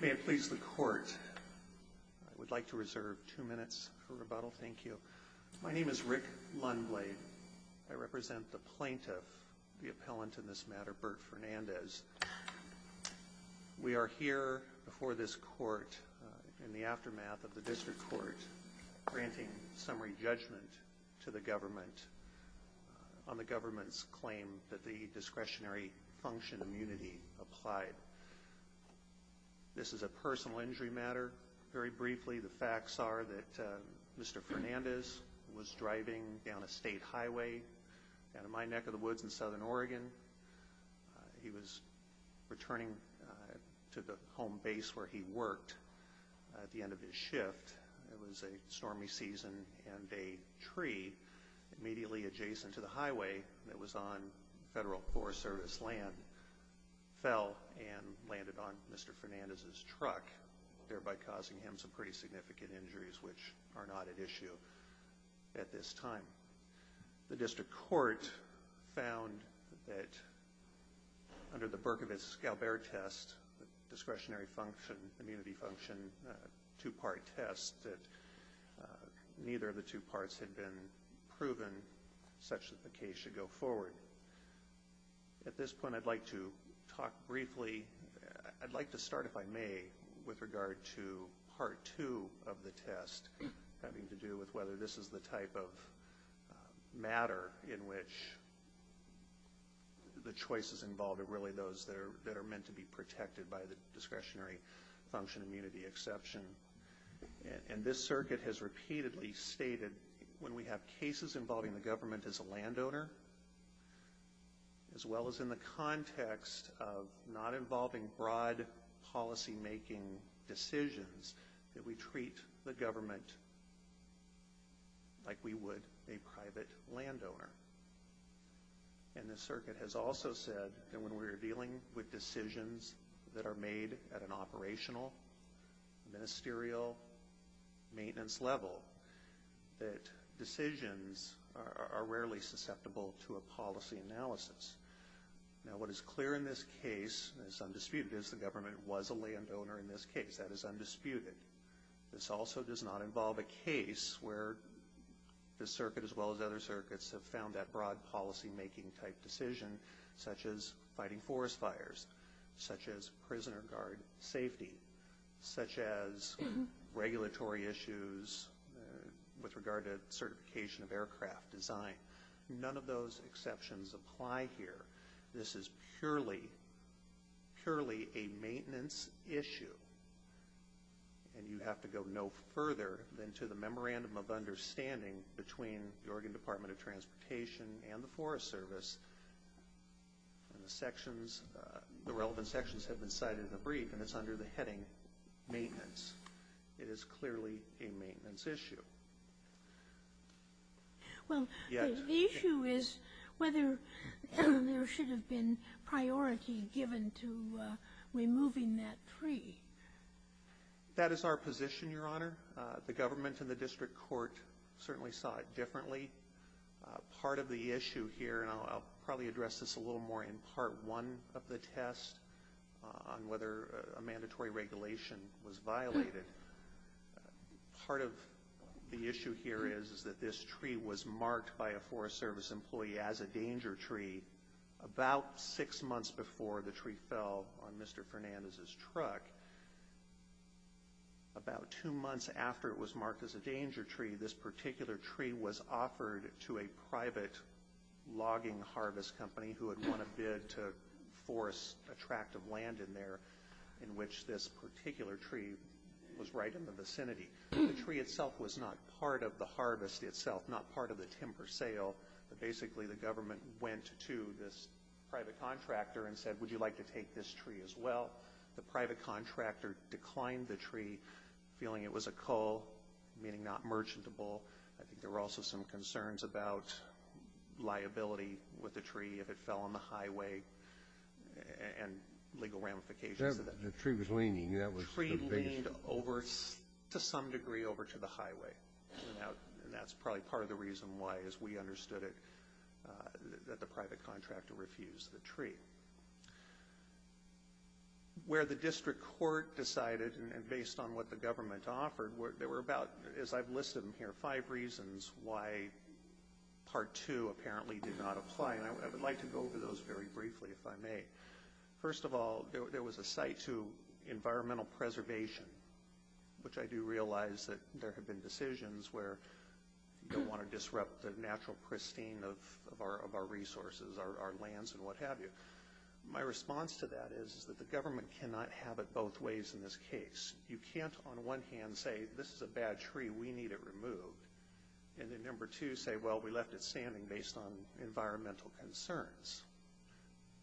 May it please the court, I would like to reserve two minutes for rebuttal. Thank you. My name is Rick Lundblade. I represent the plaintiff, the appellant in this matter, Burt Fernandez. We are here before this court in the aftermath of the District Court granting summary judgment to the government on the government's claim that the discretionary function immunity applied. This is a personal injury matter. Very briefly, the facts are that Mr. Fernandez was driving down a state highway down in my neck of the woods in southern Oregon. He was returning to the home base where he worked at the end of his shift. It was a stormy season and a tree immediately adjacent to the highway that was on Federal Forest Service land fell and hit Mr. Fernandez's truck, thereby causing him some pretty significant injuries which are not at issue at this time. The District Court found that under the Berkovitz-Galbert test, the discretionary function immunity function two-part test, that neither of the two parts had been proven such that the case should go forward. At this point, I'd like to talk briefly, I'd like to start, if I may, with regard to part two of the test having to do with whether this is the type of matter in which the choices involved are really those that are meant to be protected by the discretionary function immunity exception. This circuit has repeatedly stated when we have cases involving the government as a landowner, as well as in the context of not involving broad policymaking decisions, that we treat the government like we would a private landowner. And the circuit has also said that when we're dealing with decisions that are made at an operational, ministerial, maintenance level, that decisions are rarely susceptible to a policy analysis. Now, what is clear in this case is undisputed is the government was a landowner in this case. That is undisputed. This also does not involve a case where the circuit, as well as other circuits, have found that broad policymaking type decision, such as fighting forest fires, such as prisoner guard safety, such as regulatory issues with regard to certification of aircraft design. None of those exceptions apply here. This is purely, purely a maintenance issue. And you have to go no further than to the memorandum of understanding between the Oregon Department of Transportation and the Forest Service. And the sections, the relevant sections have been cited in the brief, and it's under the heading maintenance. It is clearly a maintenance issue. Well, the issue is whether there should have been priority given to removing that tree. That is our position, Your Honor. The government and the district court certainly saw it differently. Part of the issue here, and I'll probably address this a little more in part one of the test on whether a mandatory regulation was violated, part of the issue here is that this tree was marked by a Forest Service employee as a danger tree about six months before the tree fell on Mr. Fernandez's truck. About two months after it was marked as a danger tree, this particular tree was offered to a private logging harvest company who had done a bid to force a tract of land in there in which this particular tree was right in the vicinity. The tree itself was not part of the harvest itself, not part of the timber sale, but basically the government went to this private contractor and said, would you like to take this tree as well? The private contractor declined the tree, feeling it was a cull, meaning not merchantable. I think there were also some concerns about liability with the tree if it fell on the highway and legal ramifications of that. The tree was leaning. The tree leaned over, to some degree, over to the highway. That's probably part of the reason why, as we understood it, that the private contractor refused the tree. Where the district court decided, and based on what the government offered, there were about, as I've listed them here, five reasons why Part 2 apparently did not apply. I would like to go over those very briefly, if I may. First of all, there was a cite to environmental preservation, which I do realize that there have been decisions where you don't want to disrupt the natural pristine of our resources, our lands, and what have you. My response to that is that the government cannot have it both ways in this case. You can't, on one hand, say, this is a bad tree, we need it removed, and then, number two, say, well, we left it standing based on environmental concerns.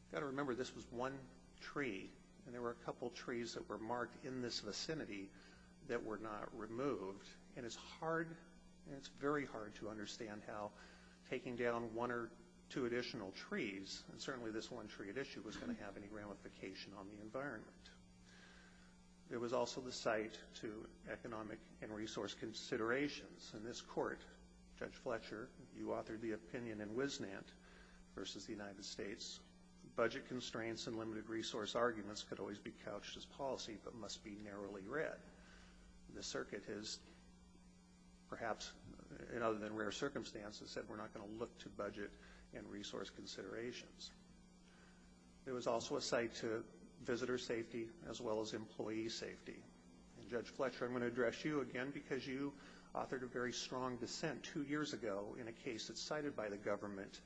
You've got to remember, this was one tree, and there were a couple trees that were marked in this vicinity that were not removed. It's very hard to understand how taking down one or two additional trees, and certainly this one tree at issue, was going to have any ramification on the environment. There was also the cite to economic and resource considerations. In this court, Judge Fletcher, you authored the opinion in Wisnant versus the United States, budget constraints and limited resource arguments could always be couched as policy, but must be narrowly read. The circuit has, perhaps in other than rare circumstances, said we're not going to look to budget and resource considerations. There was also a cite to visitor safety, as well as employee safety. Judge Fletcher, I'm going to address you again, because you authored a very strong dissent two years ago in a case that's cited by the government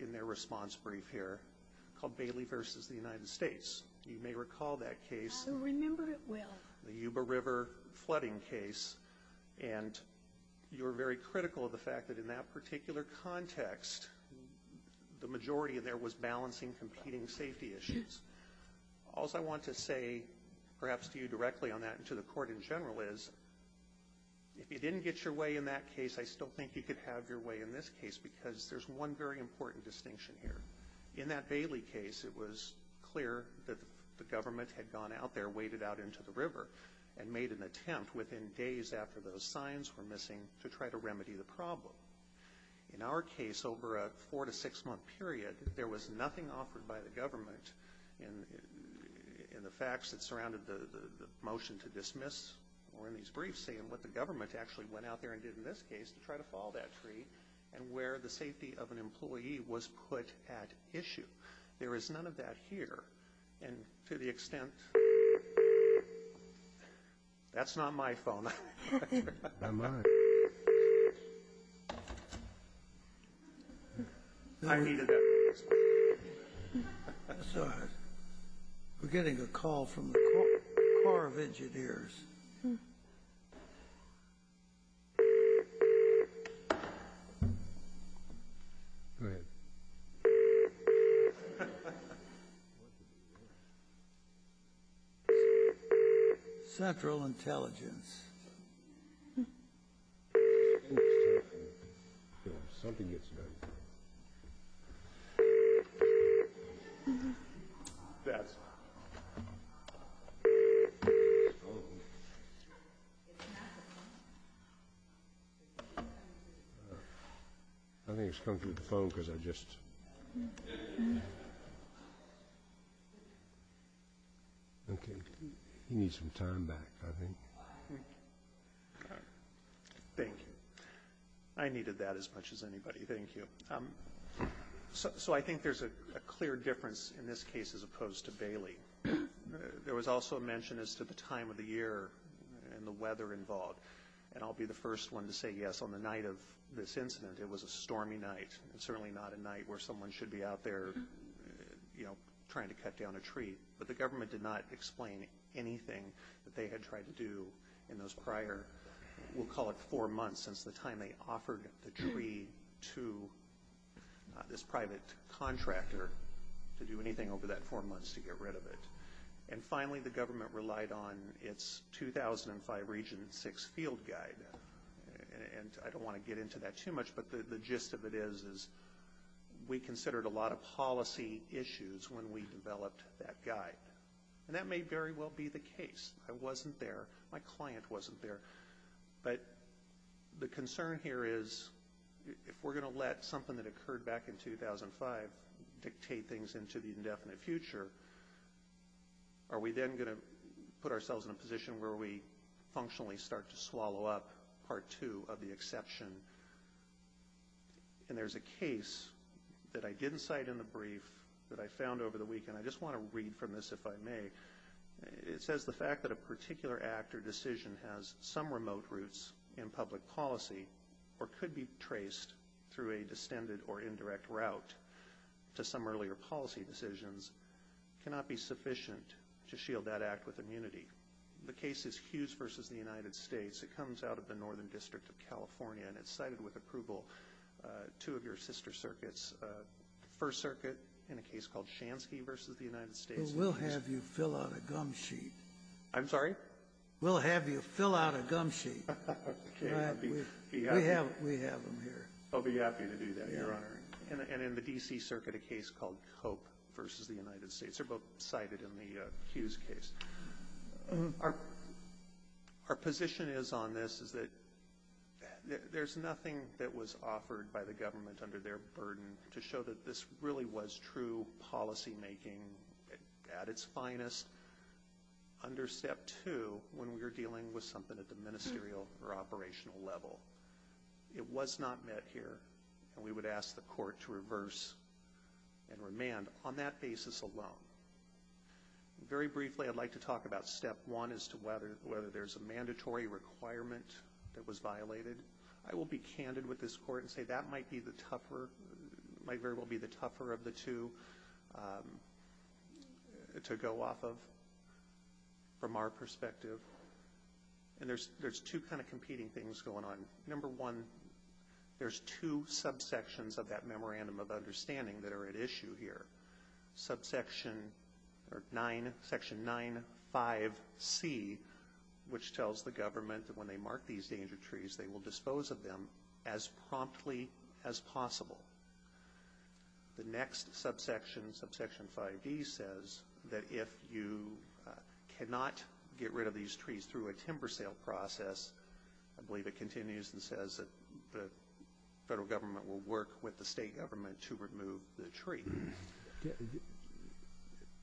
in their response brief here, called Bailey versus the United States. You may recall that case, the Yuba River flooding case, and you were very critical of the fact that in that particular context, the majority of there was balancing competing safety issues. Also, I want to say, perhaps to you directly on that and to the court in general, is if you didn't get your way in that case, I still think you could have your way in this case, because there's one very important distinction here. In that Bailey case, it was clear that the government had gone out there, waded out into the river, and made an attempt within days after those signs were missing to try to remedy the problem. In our case, over a four to six month period, there was nothing offered by the government in the facts that surrounded the motion to dismiss, or in these briefs, saying what the government actually went out there and did in this case to try to follow that tree, and where the safety of an employee was put at issue. There is none of that here, and to the extent... That's not my phone. Not mine. I needed that. We're getting a call from the Corps of Engineers. Go ahead. Central Intelligence. Something gets done. That's not... I think it's coming through the phone, because I just... Okay. He needs some time back, I think. Thank you. I needed that as much as anybody. Thank you. So I think there's a clear difference in this case as opposed to Bailey. There was also a mention as to the time of the year and the weather involved, and I'll be the first one to say yes. On the night of this night, where someone should be out there trying to cut down a tree, but the government did not explain anything that they had tried to do in those prior, we'll call it four months since the time they offered the tree to this private contractor to do anything over that four months to get rid of it. And finally, the government relied on its 2005 Region 6 Field Guide. And I don't want to get into that too much, but the gist of it is we considered a lot of policy issues when we developed that guide. And that may very well be the case. I wasn't there. My client wasn't there. But the concern here is if we're going to let something that occurred back in 2005 dictate things into the indefinite future, are we then going to put ourselves in a position where we functionally start to swallow up Part 2 of the exception? And there's a case that I didn't cite in the brief that I found over the weekend. I just want to read from this, if I may. It says the fact that a particular act or decision has some remote roots in public policy or could be traced through a distended or indirect route to some earlier policy decisions cannot be sufficient to shield that act with immunity. The case is Hughes v. The United States. It comes out of the Northern District of California, and it's cited with approval two of your sister circuits, First Circuit in a case called Shansky v. The United States. Well, we'll have you fill out a gum sheet. I'm sorry? We'll have you fill out a gum sheet. Okay, I'll be happy. We have them here. I'll be happy to do that, Your Honor. And in the D.C. Circuit, a case called Cope v. The United States. They're both cited in the Hughes case. Our position is on this is that there's nothing that was offered by the government under their burden to show that this really was true policymaking at its finest under Step 2 when we were dealing with something at the ministerial or operational level. It was not met here, and we would ask the court to reverse and remand on that basis alone. Very briefly, I'd like to talk about Step 1 as to whether there's a mandatory requirement that was violated. I will be candid with this court and say that might be the tougher, might very well be the tougher of the two to go off of from our perspective. And there's two kind of competing things going on. Number one, there's two subsections of that Memorandum of Understanding that are at issue here. Subsection 9, Section 9.5.C, which tells the government that when they mark these danger trees, they will dispose of them as promptly as possible. The next subsection, Subsection 5.D, says that if you cannot get rid of these trees through a timber sale process, I believe it continues and says that the federal government will work with the state government to remove the tree.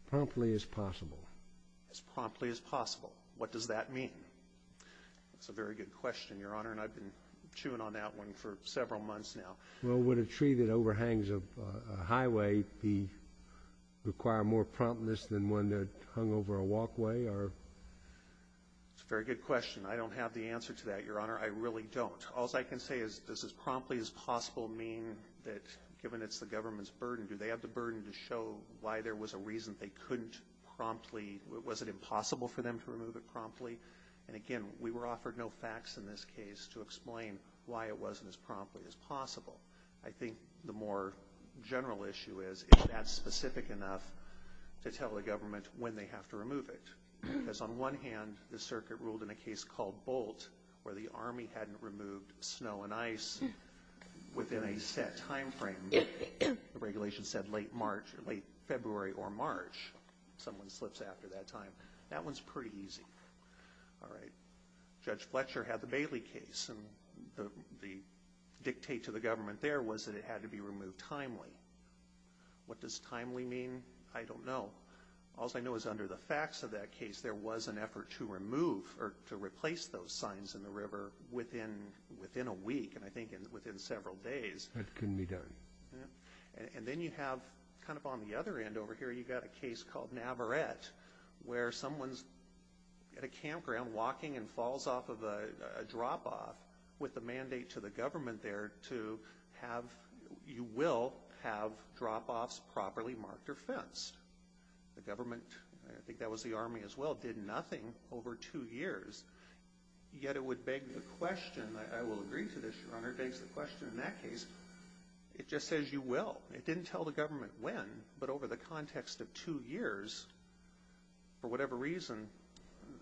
Promptly as possible. As promptly as possible. What does that mean? That's a very good question, Your Honor, and I've been chewing on that one for several months now. Well, would a tree that overhangs a highway require more promptness than one that hung over a walkway? That's a very good question. I don't have the answer to that, Your Honor. I really don't. All I can say is does as promptly as possible mean that given it's the government's burden, do they have the burden to show why there was a reason they couldn't promptly, was it impossible for them to remove it promptly? And again, we were offered no facts in this case to explain why it wasn't as promptly as possible. I think the more general issue is is that specific enough to tell the government when they have to remove it? Because on one hand, the circuit ruled in a case called Bolt where the Army hadn't removed snow and ice within a set time frame. The regulation said late March, late February or March. Someone slips after that time. That one's pretty easy. All right. Judge Fletcher had the Bailey case and the dictate to the government there was that it had to be removed timely. What does timely mean? I don't know. All I know is under the facts of that case, there was an effort to remove or to replace those signs in the river within a week and I think within several days. That couldn't be done. And then you have kind of on the other end over here, you've got a case called Navarette where someone's at a campground walking and falls off of a drop off with the mandate to the government there to have, you will have drop offs properly marked or fenced. The government, I think that was the Army as well, did nothing over two years. Yet it would beg the question, I will agree to this your honor, it begs the question in that case, it just says you will. It didn't tell the government when, but over the context of two years, for whatever reason,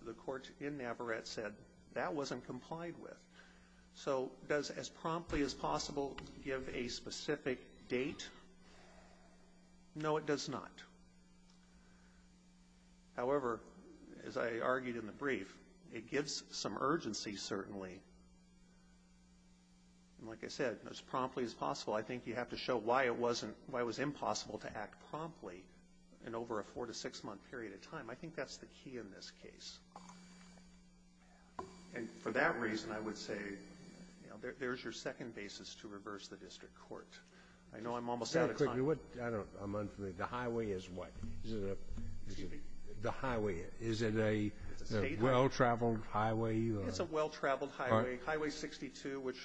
the courts in Navarette said that wasn't complied with. So does as promptly as possible give a specific date? No, it does not. However, as I argued in the brief, it gives some urgency certainly. And like I said, as promptly as possible, I think you have to show why it wasn't, why it was impossible to act promptly in over a four to six month period of time. I think that's the key in this case. And for that reason, I would say there's your second basis to reverse the district court. I know I'm almost out of time. The highway is what? The highway, is it a well-traveled highway? It's a well-traveled highway, Highway 62, which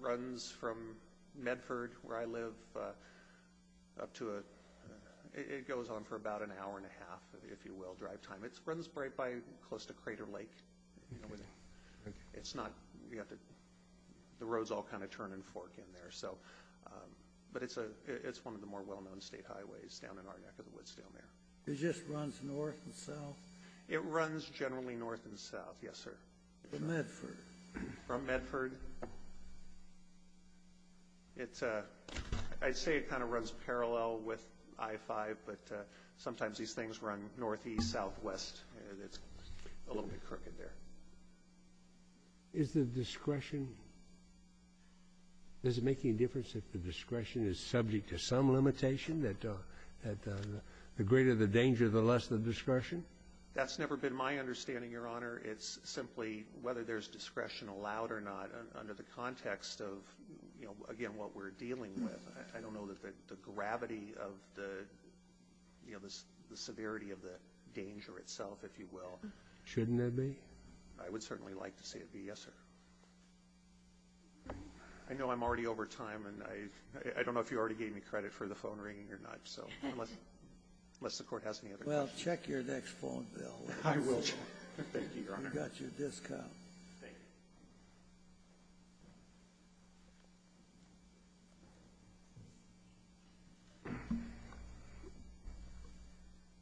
runs from Medford, where I live, it goes on for about an hour and a half, if you will, drive time. It runs right by close to Crater Lake. The road's all kind of turn and fork in there. But it's one of the more well-known state highways down in our neck of the woods down there. It just runs north and south? It runs generally north and south, yes, sir. From Medford? From Medford. I'd say it kind of runs parallel with I-5, but sometimes these things run northeast, southwest. It's a little bit crooked there. Is the discretion, is it making a difference if the discretion is subject to some limitation, that the greater the danger, the less the discretion? That's never been my understanding, Your Honor. It's simply whether there's discretion allowed or not under the context of, again, what we're dealing with. I don't know that the gravity of the severity of the danger itself, if you will. Shouldn't there be? I would certainly like to see it be, yes, sir. I know I'm already over time, and I don't know if you already gave me credit for the phone ringing or not, unless the Court has any other questions. Well, check your next phone, Bill. I will. Thank you, Your Honor. You got your discount. Thank you.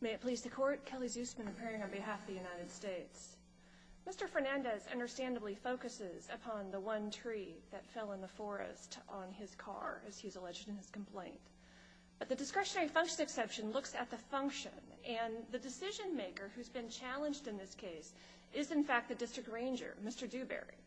May it please the Court? Kelly Zusman appearing on behalf of the United States. Mr. Fernandez understandably focuses upon the one tree that fell in the forest on his car, as he's alleged in his complaint. But the discretionary function exception looks at the function, and the decision-maker who's been challenged in this case is, in fact, the district ranger, Mr. Dewberry.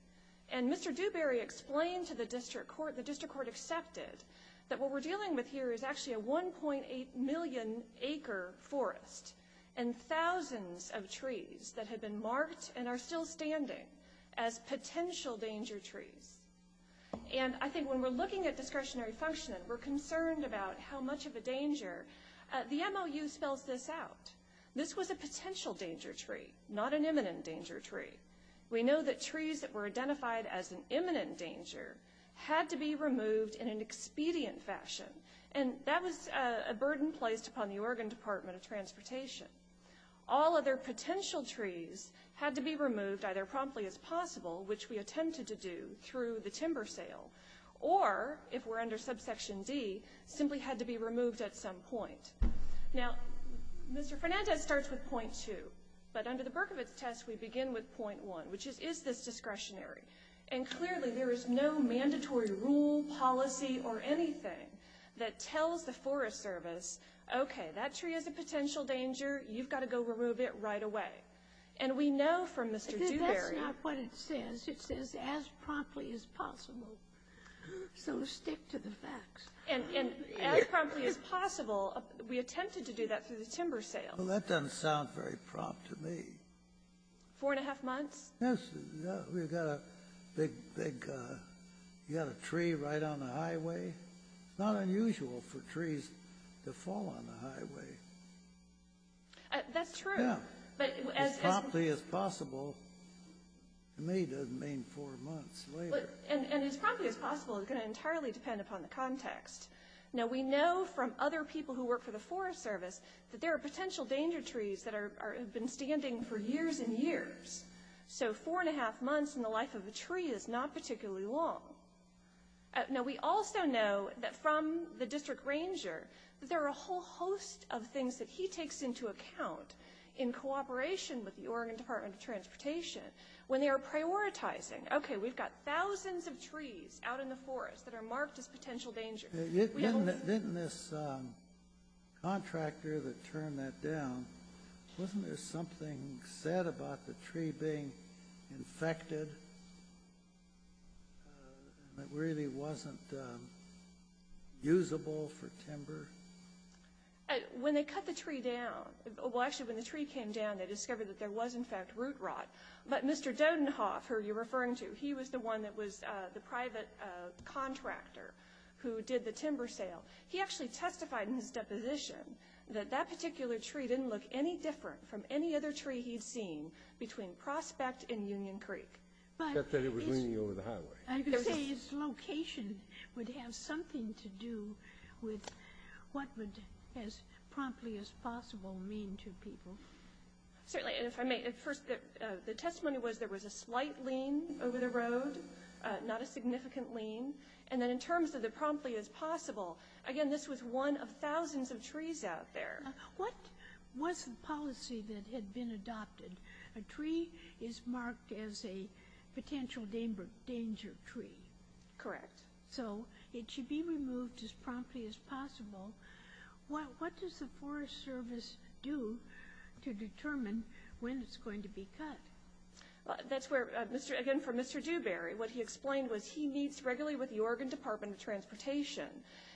And Mr. Dewberry explained to the district court, the district court accepted, that what we're dealing with here is actually a 1.8 million acre forest and thousands of trees that have been marked and are still standing as potential danger trees. And I think when we're looking at discretionary function and we're concerned about how much of a danger, the MOU spells this out. This was a potential danger tree, not an imminent danger tree. We know that trees that were identified as an imminent danger had to be removed in an expedient fashion, and that was a burden placed upon the Oregon Department of Transportation. All other potential trees had to be removed, either promptly as possible, which we attempted to do through the timber sale, or, if we're under subsection D, simply had to be removed at some point. Now, Mr. Fernandez starts with point two, but under the Berkovitz test, we begin with point one, which is, is this discretionary? And clearly, there is no mandatory rule, policy, or anything that tells the Forest Service, okay, that tree is a potential danger, you've got to go remove it right away. And we know from Mr. Dewberry. But that's not what it says. It says as promptly as possible. So stick to the facts. And as promptly as possible, we attempted to do that through the timber sale. Well, that doesn't sound very prompt to me. Four and a half months? Yes. We've got a big, big, you've got a tree right on the highway. It's not unusual for trees to fall on the highway. That's true. As promptly as possible, to me, doesn't mean four months later. And as promptly as possible is going to entirely depend upon the context. Now, we know from other people who work for the Forest Service that there are potential danger trees that have been standing for years and years. So four and a half months in the life of a tree is not particularly long. Now, we also know that from the district ranger, that there are a whole host of things that he takes into account in cooperation with the Oregon Department of Transportation when they are prioritizing. Okay, we've got thousands of trees out in the forest that are marked as potential danger. Didn't this contractor that turned that down, wasn't there something said about the tree being infected that really wasn't usable for timber? When they cut the tree down, well, actually, when the tree came down, they discovered that there was, in fact, root rot. But Mr. Dodenhoff, who you're referring to, he was the one that was the private contractor who did the timber sale. He actually testified in his deposition that that particular tree didn't look any different from any other tree he'd seen between Prospect and Union Creek. Except that it was leaning over the highway. I would say its location would have something to do with what would as promptly as possible mean to people. Certainly, and if I may, at first the testimony was there was a slight lean over the road, not a significant lean. And then in terms of the promptly as possible, again, this was one of thousands of trees out there. What was the policy that had been adopted? A tree is marked as a potential danger tree. Correct. So it should be removed as promptly as possible. What does the Forest Service do to determine when it's going to be cut? Again, for Mr. Dewberry, what he explained was he meets regularly with the Oregon Department of Transportation,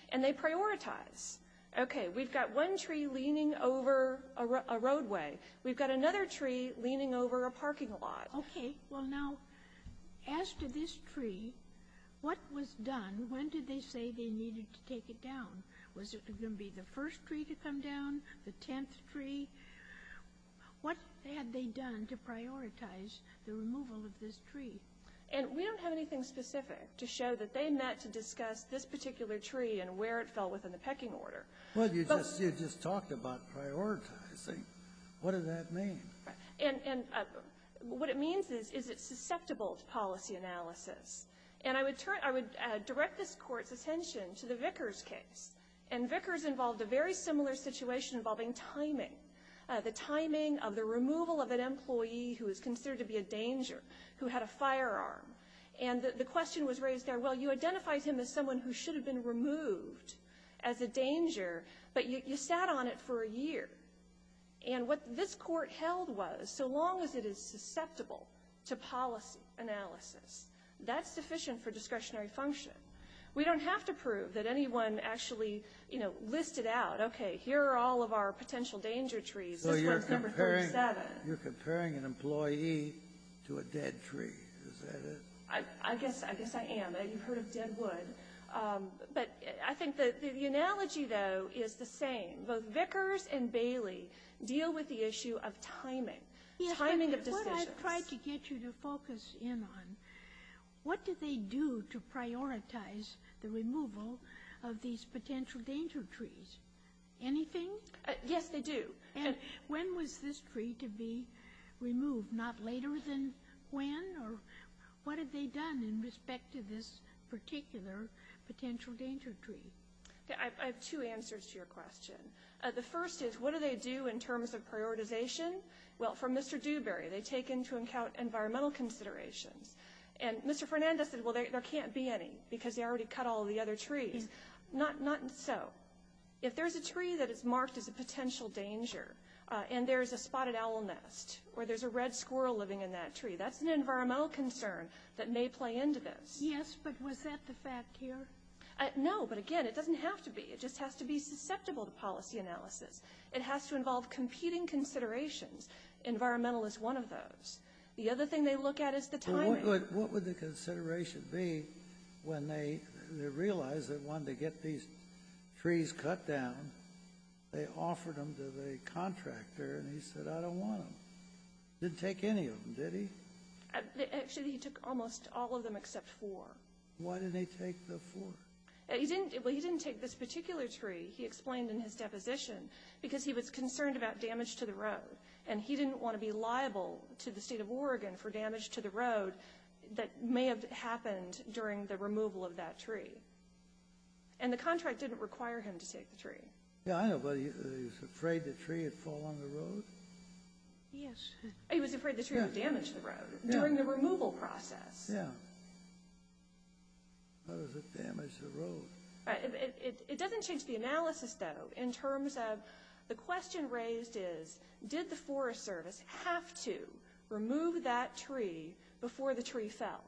and they prioritize. Okay. We've got one tree leaning over a roadway. We've got another tree leaning over a parking lot. Okay. Well, now, as to this tree, what was done? When did they say they needed to take it down? Was it going to be the first tree to come down, the tenth tree? What had they done to prioritize the removal of this tree? And we don't have anything specific to show that they met to discuss this particular tree and where it fell within the pecking order. Well, you just talked about prioritizing. What does that mean? And what it means is it's susceptible to policy analysis. And I would direct this Court's attention to the Vickers case, and Vickers involved a very similar situation involving timing, the timing of the removal of an employee who is considered to be a danger who had a firearm. And the question was raised there, well, you identified him as someone who should have been removed as a danger, but you sat on it for a year. And what this Court held was, so long as it is susceptible to policy analysis, that's sufficient for discretionary function. We don't have to prove that anyone actually, you know, listed out, okay, here are all of our potential danger trees. So you're comparing an employee to a dead tree, is that it? I guess I am. You've heard of Deadwood. But I think the analogy, though, is the same. Both Vickers and Bailey deal with the issue of timing, timing of decisions. What I've tried to get you to focus in on, what did they do to prioritize the removal of these potential danger trees? Anything? Yes, they do. And when was this tree to be removed? Not later than when? Or what had they done in respect to this particular potential danger tree? I have two answers to your question. The first is, what do they do in terms of prioritization? Well, for Mr. Dewberry, they take into account environmental considerations. And Mr. Fernandez said, well, there can't be any, because they already cut all the other trees. Not so. Well, if there's a tree that is marked as a potential danger and there's a spotted owl nest or there's a red squirrel living in that tree, that's an environmental concern that may play into this. Yes, but was that the fact here? No, but, again, it doesn't have to be. It just has to be susceptible to policy analysis. It has to involve competing considerations. Environmental is one of those. The other thing they look at is the timing. What would the consideration be when they realized they wanted to get these trees cut down? They offered them to the contractor, and he said, I don't want them. Didn't take any of them, did he? Actually, he took almost all of them except four. Why didn't he take the four? Well, he didn't take this particular tree, he explained in his deposition, because he was concerned about damage to the road. And he didn't want to be liable to the state of Oregon for damage to the road that may have happened during the removal of that tree. And the contract didn't require him to take the tree. Yeah, I know, but he was afraid the tree would fall on the road? Yes. He was afraid the tree would damage the road during the removal process. Yeah. It doesn't change the analysis, though. The question raised is, did the Forest Service have to remove that tree before the tree fell?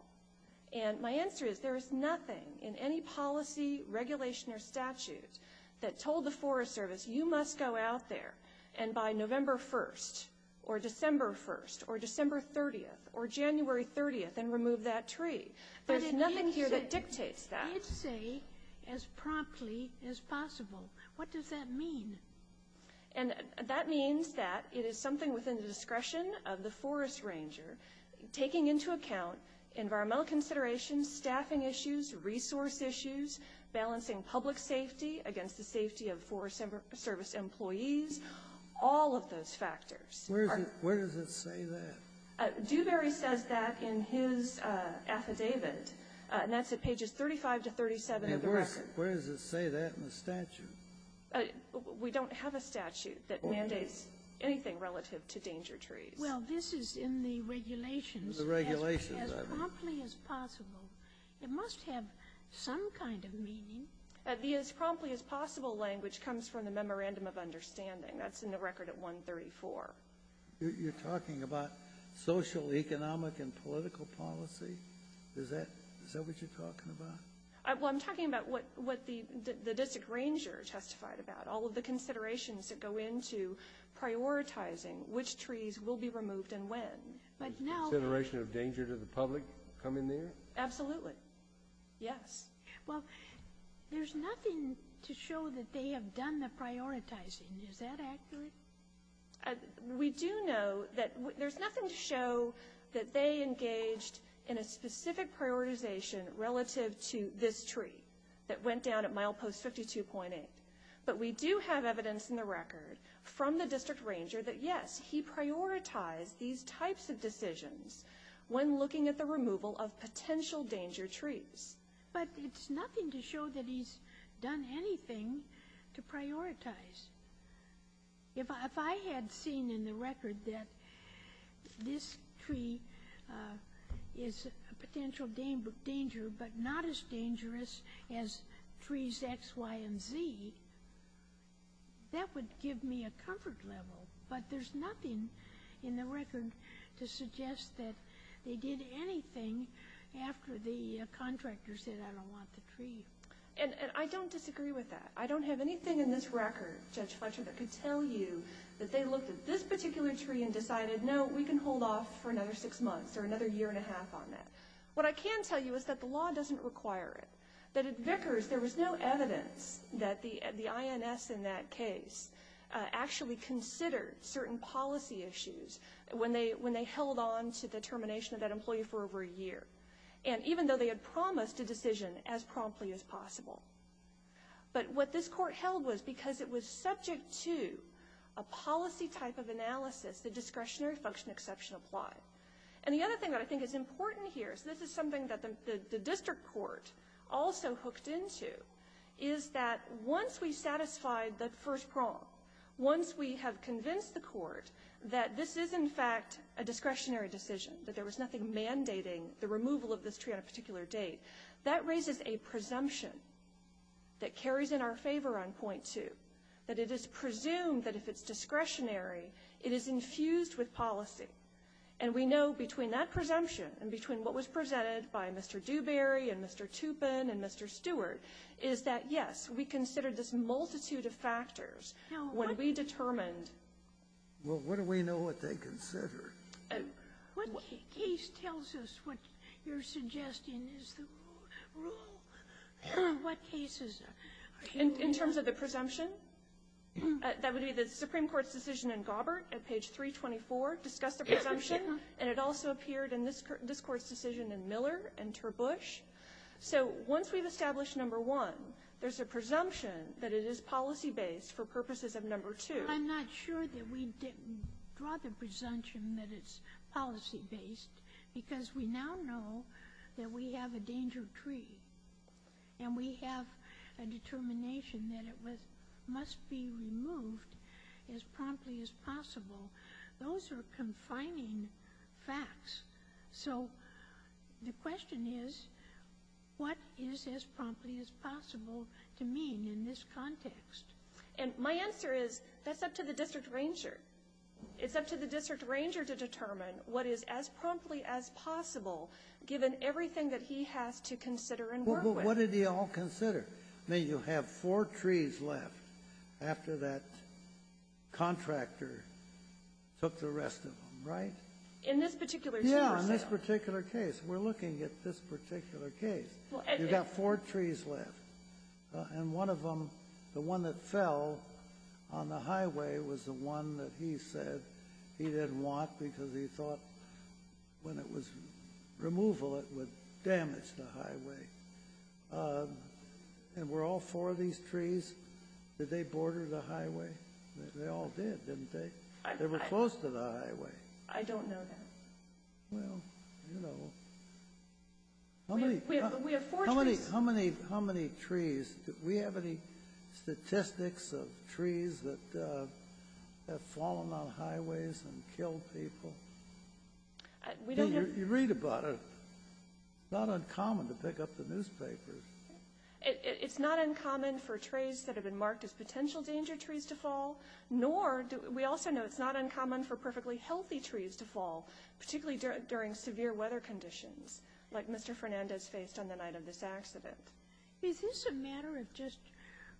And my answer is, there is nothing in any policy, regulation, or statute that told the Forest Service, you must go out there and by November 1st or December 1st or December 30th or January 30th and remove that tree. There's nothing here that dictates that. I'd say as promptly as possible. What does that mean? That means that it is something within the discretion of the Forest Ranger, taking into account environmental considerations, staffing issues, resource issues, balancing public safety against the safety of Forest Service employees, all of those factors. Where does it say that? Dewberry says that in his affidavit. And that's at pages 35 to 37 of the record. Where does it say that in the statute? We don't have a statute that mandates anything relative to danger trees. Well, this is in the regulations. The regulations. As promptly as possible. It must have some kind of meaning. The as promptly as possible language comes from the Memorandum of Understanding. That's in the record at 134. You're talking about social, economic, and political policy? Is that what you're talking about? Well, I'm talking about what the district ranger testified about, all of the considerations that go into prioritizing which trees will be removed and when. Consideration of danger to the public coming there? Absolutely. Yes. Well, there's nothing to show that they have done the prioritizing. Is that accurate? We do know that there's nothing to show that they engaged in a specific prioritization relative to this tree that went down at milepost 52.8. But we do have evidence in the record from the district ranger that, yes, he prioritized these types of decisions when looking at the removal of potential danger trees. But it's nothing to show that he's done anything to prioritize. If I had seen in the record that this tree is a potential danger but not as dangerous as trees X, Y, and Z, that would give me a comfort level. But there's nothing in the record to suggest that they did anything after the contractor said, I don't want the tree. And I don't disagree with that. I don't have anything in this record, Judge Fletcher, that could tell you that they looked at this particular tree and decided, no, we can hold off for another six months or another year and a half on that. What I can tell you is that the law doesn't require it, that at Vickers there was no evidence that the INS in that case actually considered certain policy issues when they held on to the termination of that employee for over a year, and even though they had promised a decision as promptly as possible. But what this court held was because it was subject to a policy type of analysis, the discretionary function exception applied. And the other thing that I think is important here, so this is something that the district court also hooked into, is that once we satisfied that first prong, once we have convinced the court that this is in fact a discretionary decision, that there was nothing mandating the removal of this tree at a particular date, that raises a presumption that carries in our favor on point two, that it is presumed that if it's discretionary, it is infused with policy. And we know between that presumption and between what was presented by Mr. Dewberry and Mr. Toupin and Mr. Stewart is that, yes, we considered this multitude of factors when we determined. Well, what do we know what they considered? What case tells us what you're suggesting is the rule? What cases? In terms of the presumption, that would be the Supreme Court's decision in Gobbert at page 324, discussed the presumption, and it also appeared in this court's decision in Miller and Terbush. So once we've established number one, there's a presumption that it is policy-based for purposes of number two. I'm not sure that we draw the presumption that it's policy-based because we now know that we have a danger tree and we have a determination that it must be removed as promptly as possible. Those are confining facts. So the question is, what is as promptly as possible to mean in this context? And my answer is that's up to the district ranger. It's up to the district ranger to determine what is as promptly as possible given everything that he has to consider and work with. Well, what did he all consider? You have four trees left after that contractor took the rest of them, right? In this particular case. Yeah, in this particular case. We're looking at this particular case. You've got four trees left and one of them, the one that fell on the highway, was the one that he said he didn't want because he thought when it was removal it would damage the highway. And were all four of these trees, did they border the highway? They all did, didn't they? They were close to the highway. I don't know that. Well, you know. We have four trees. How many trees? Do we have any statistics of trees that have fallen on highways and killed people? You read about it. It's not uncommon to pick up the newspapers. It's not uncommon for trees that have been marked as potential danger trees to fall, nor we also know it's not uncommon for perfectly healthy trees to fall, particularly during severe weather conditions like Mr. Fernandez faced on the night of this accident. Is this a matter of just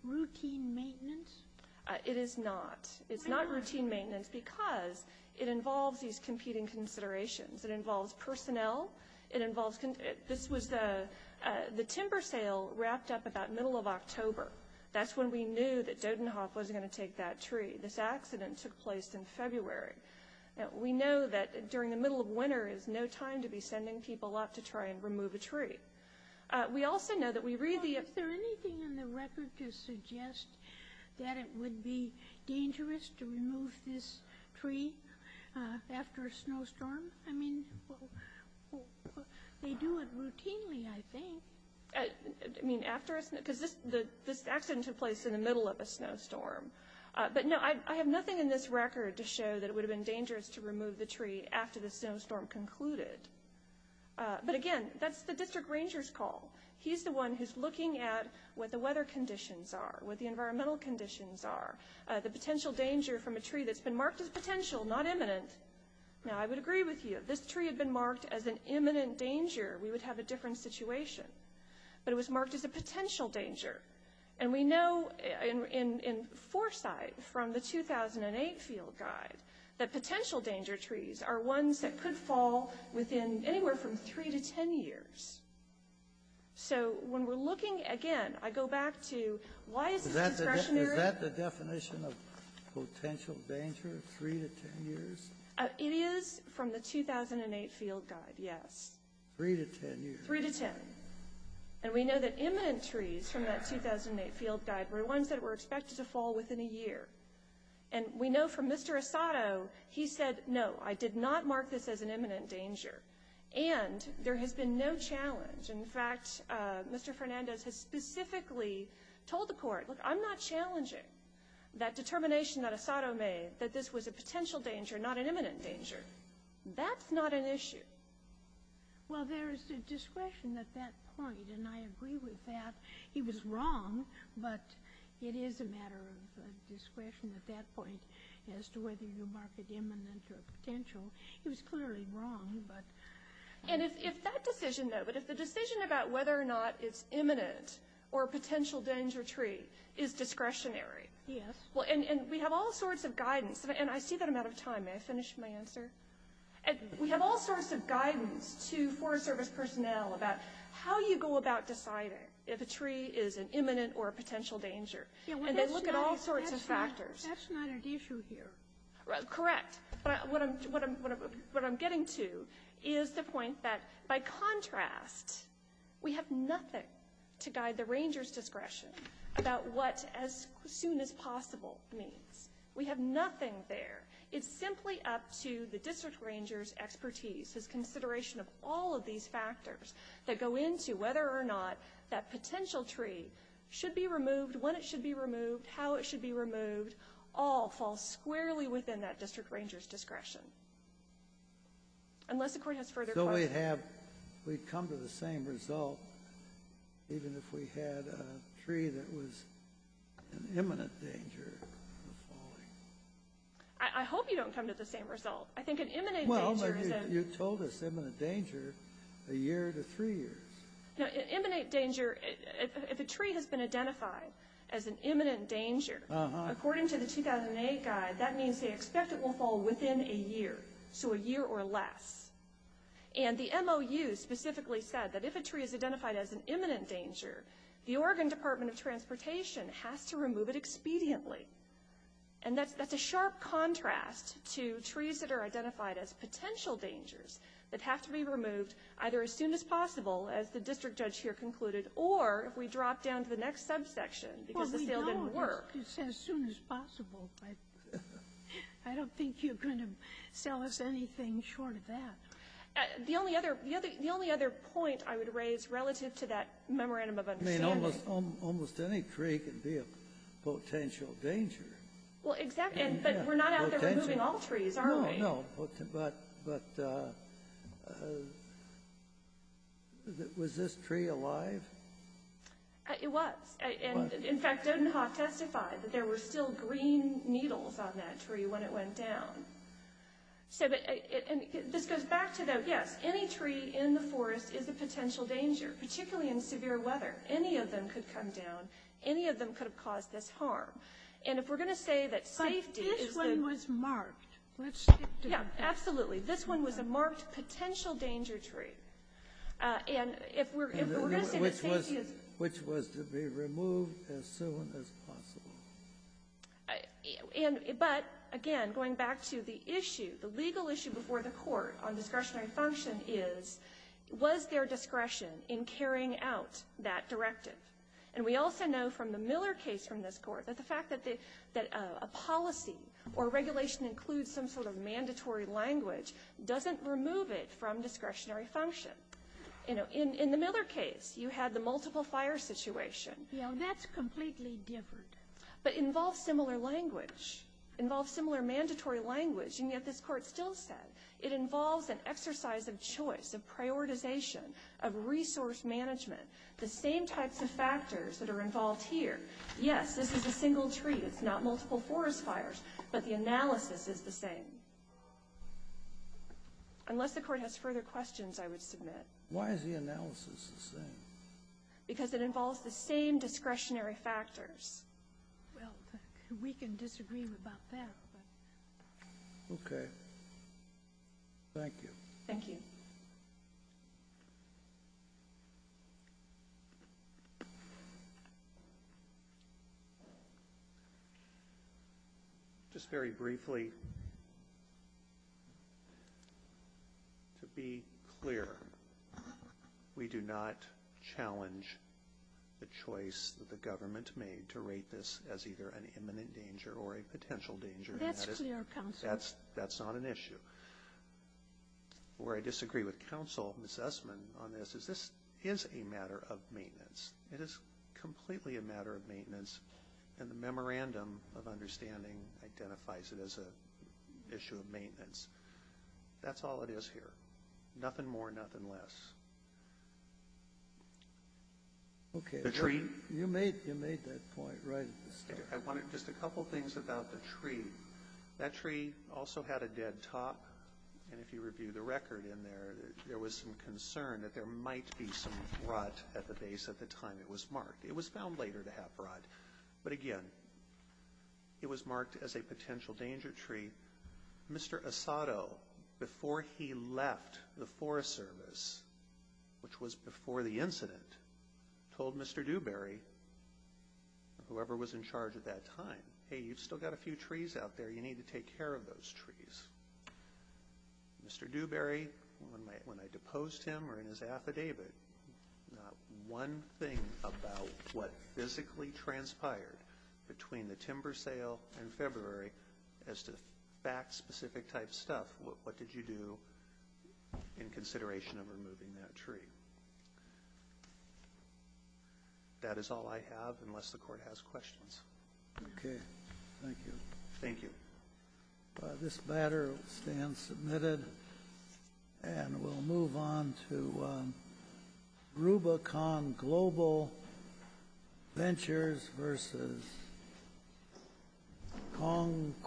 routine maintenance? It is not. It's not routine maintenance because it involves these competing considerations. It involves personnel. This was the timber sale wrapped up about middle of October. That's when we knew that Dodenhof was going to take that tree. This accident took place in February. We know that during the middle of winter is no time to be sending people up to try and remove a tree. We also know that we read the- Is there anything in the record to suggest that it would be dangerous to remove this tree after a snowstorm? I mean, they do it routinely, I think. I mean, after a snowstorm? Because this accident took place in the middle of a snowstorm. But, no, I have nothing in this record to show that it would have been dangerous to remove the tree after the snowstorm concluded. But, again, that's the district ranger's call. He's the one who's looking at what the weather conditions are, what the environmental conditions are, the potential danger from a tree that's been marked as potential, not imminent. Now, I would agree with you. If this tree had been marked as an imminent danger, we would have a different situation. But it was marked as a potential danger. And we know in foresight from the 2008 field guide that potential danger trees are ones that could fall within anywhere from 3 to 10 years. So when we're looking, again, I go back to why is this discretionary? Is that the definition of potential danger, 3 to 10 years? It is from the 2008 field guide, yes. 3 to 10 years. 3 to 10. And we know that imminent trees from that 2008 field guide were ones that were expected to fall within a year. And we know from Mr. Asato, he said, no, I did not mark this as an imminent danger. And there has been no challenge. In fact, Mr. Fernandez has specifically told the court, look, I'm not challenging that determination that Asato made, that this was a potential danger, not an imminent danger. That's not an issue. Well, there is a discretion at that point, and I agree with that. He was wrong, but it is a matter of discretion at that point as to whether you mark it imminent or potential. He was clearly wrong, but. And if that decision, though, but if the decision about whether or not it's imminent or a potential danger tree is discretionary. Yes. Well, and we have all sorts of guidance, and I see that I'm out of time. May I finish my answer? We have all sorts of guidance to Forest Service personnel about how you go about deciding if a tree is an imminent or a potential danger. And they look at all sorts of factors. That's not an issue here. Correct. But what I'm getting to is the point that, by contrast, we have nothing to guide the ranger's discretion about what as soon as possible means. We have nothing there. It's simply up to the district ranger's expertise, his consideration of all of these factors that go into whether or not that potential tree should be removed, when it should be removed, how it should be removed, all fall squarely within that district ranger's discretion. Unless the court has further questions. So we'd come to the same result even if we had a tree that was an imminent danger of falling? I hope you don't come to the same result. I think an imminent danger is a... Well, you told us imminent danger a year to three years. An imminent danger, if a tree has been identified as an imminent danger, according to the 2008 guide, that means they expect it will fall within a year. So a year or less. And the MOU specifically said that if a tree is identified as an imminent danger, the Oregon Department of Transportation has to remove it expediently. And that's a sharp contrast to trees that are identified as potential dangers that have to be removed either as soon as possible, as the district judge here concluded, or if we drop down to the next subsection because the sale didn't work. Well, we know it's as soon as possible, but I don't think you're going to sell us anything short of that. The only other point I would raise relative to that memorandum of understanding... I mean, almost any tree can be a potential danger. Well, exactly. But we're not out there removing all trees, are we? No, no. But was this tree alive? It was. In fact, Dodenhoff testified that there were still green needles on that tree when it went down. So this goes back to, yes, any tree in the forest is a potential danger, particularly in severe weather. Any of them could come down. Any of them could have caused this harm. And if we're going to say that safety is... But this one was marked. Yeah, absolutely. This one was a marked potential danger tree. And if we're going to say that safety is... Which was to be removed as soon as possible. But, again, going back to the issue, the legal issue before the court on discretionary function is, was there discretion in carrying out that directive? And we also know from the Miller case from this court that the fact that a policy or regulation includes some sort of mandatory language doesn't remove it from discretionary function. In the Miller case, you had the multiple fire situation. Yeah, that's completely different. But involves similar language. Involves similar mandatory language. And yet this court still said it involves an exercise of choice, of prioritization, of resource management. The same types of factors that are involved here. Yes, this is a single tree. It's not multiple forest fires. But the analysis is the same. Unless the court has further questions, I would submit. Why is the analysis the same? Because it involves the same discretionary factors. Well, we can disagree about that. Okay. Thank you. Thank you. Thank you. Just very briefly. To be clear, we do not challenge the choice that the government made to rate this as either an imminent danger or a potential danger. That's clear, counsel. That's not an issue. Where I disagree with counsel, Ms. Essman, on this, is this is a matter of maintenance. It is completely a matter of maintenance. And the memorandum of understanding identifies it as an issue of maintenance. That's all it is here. Nothing more, nothing less. Okay. The tree. You made that point right at the start. I wanted just a couple things about the tree. That tree also had a dead top. And if you review the record in there, there was some concern that there might be some rot at the base at the time it was marked. It was found later to have rot. But, again, it was marked as a potential danger tree. Mr. Asado, before he left the Forest Service, which was before the incident, told Mr. Dewberry, whoever was in charge at that time, hey, you've still got a few trees out there. You need to take care of those trees. Mr. Dewberry, when I deposed him or in his affidavit, not one thing about what physically transpired between the timber sale and February as to fact-specific type stuff. What did you do in consideration of removing that tree? That is all I have, unless the Court has questions. Okay. Thank you. Thank you. This matter will stand submitted. And we'll move on to Rubicon Global Ventures v. Kong, Quing, and Lowe.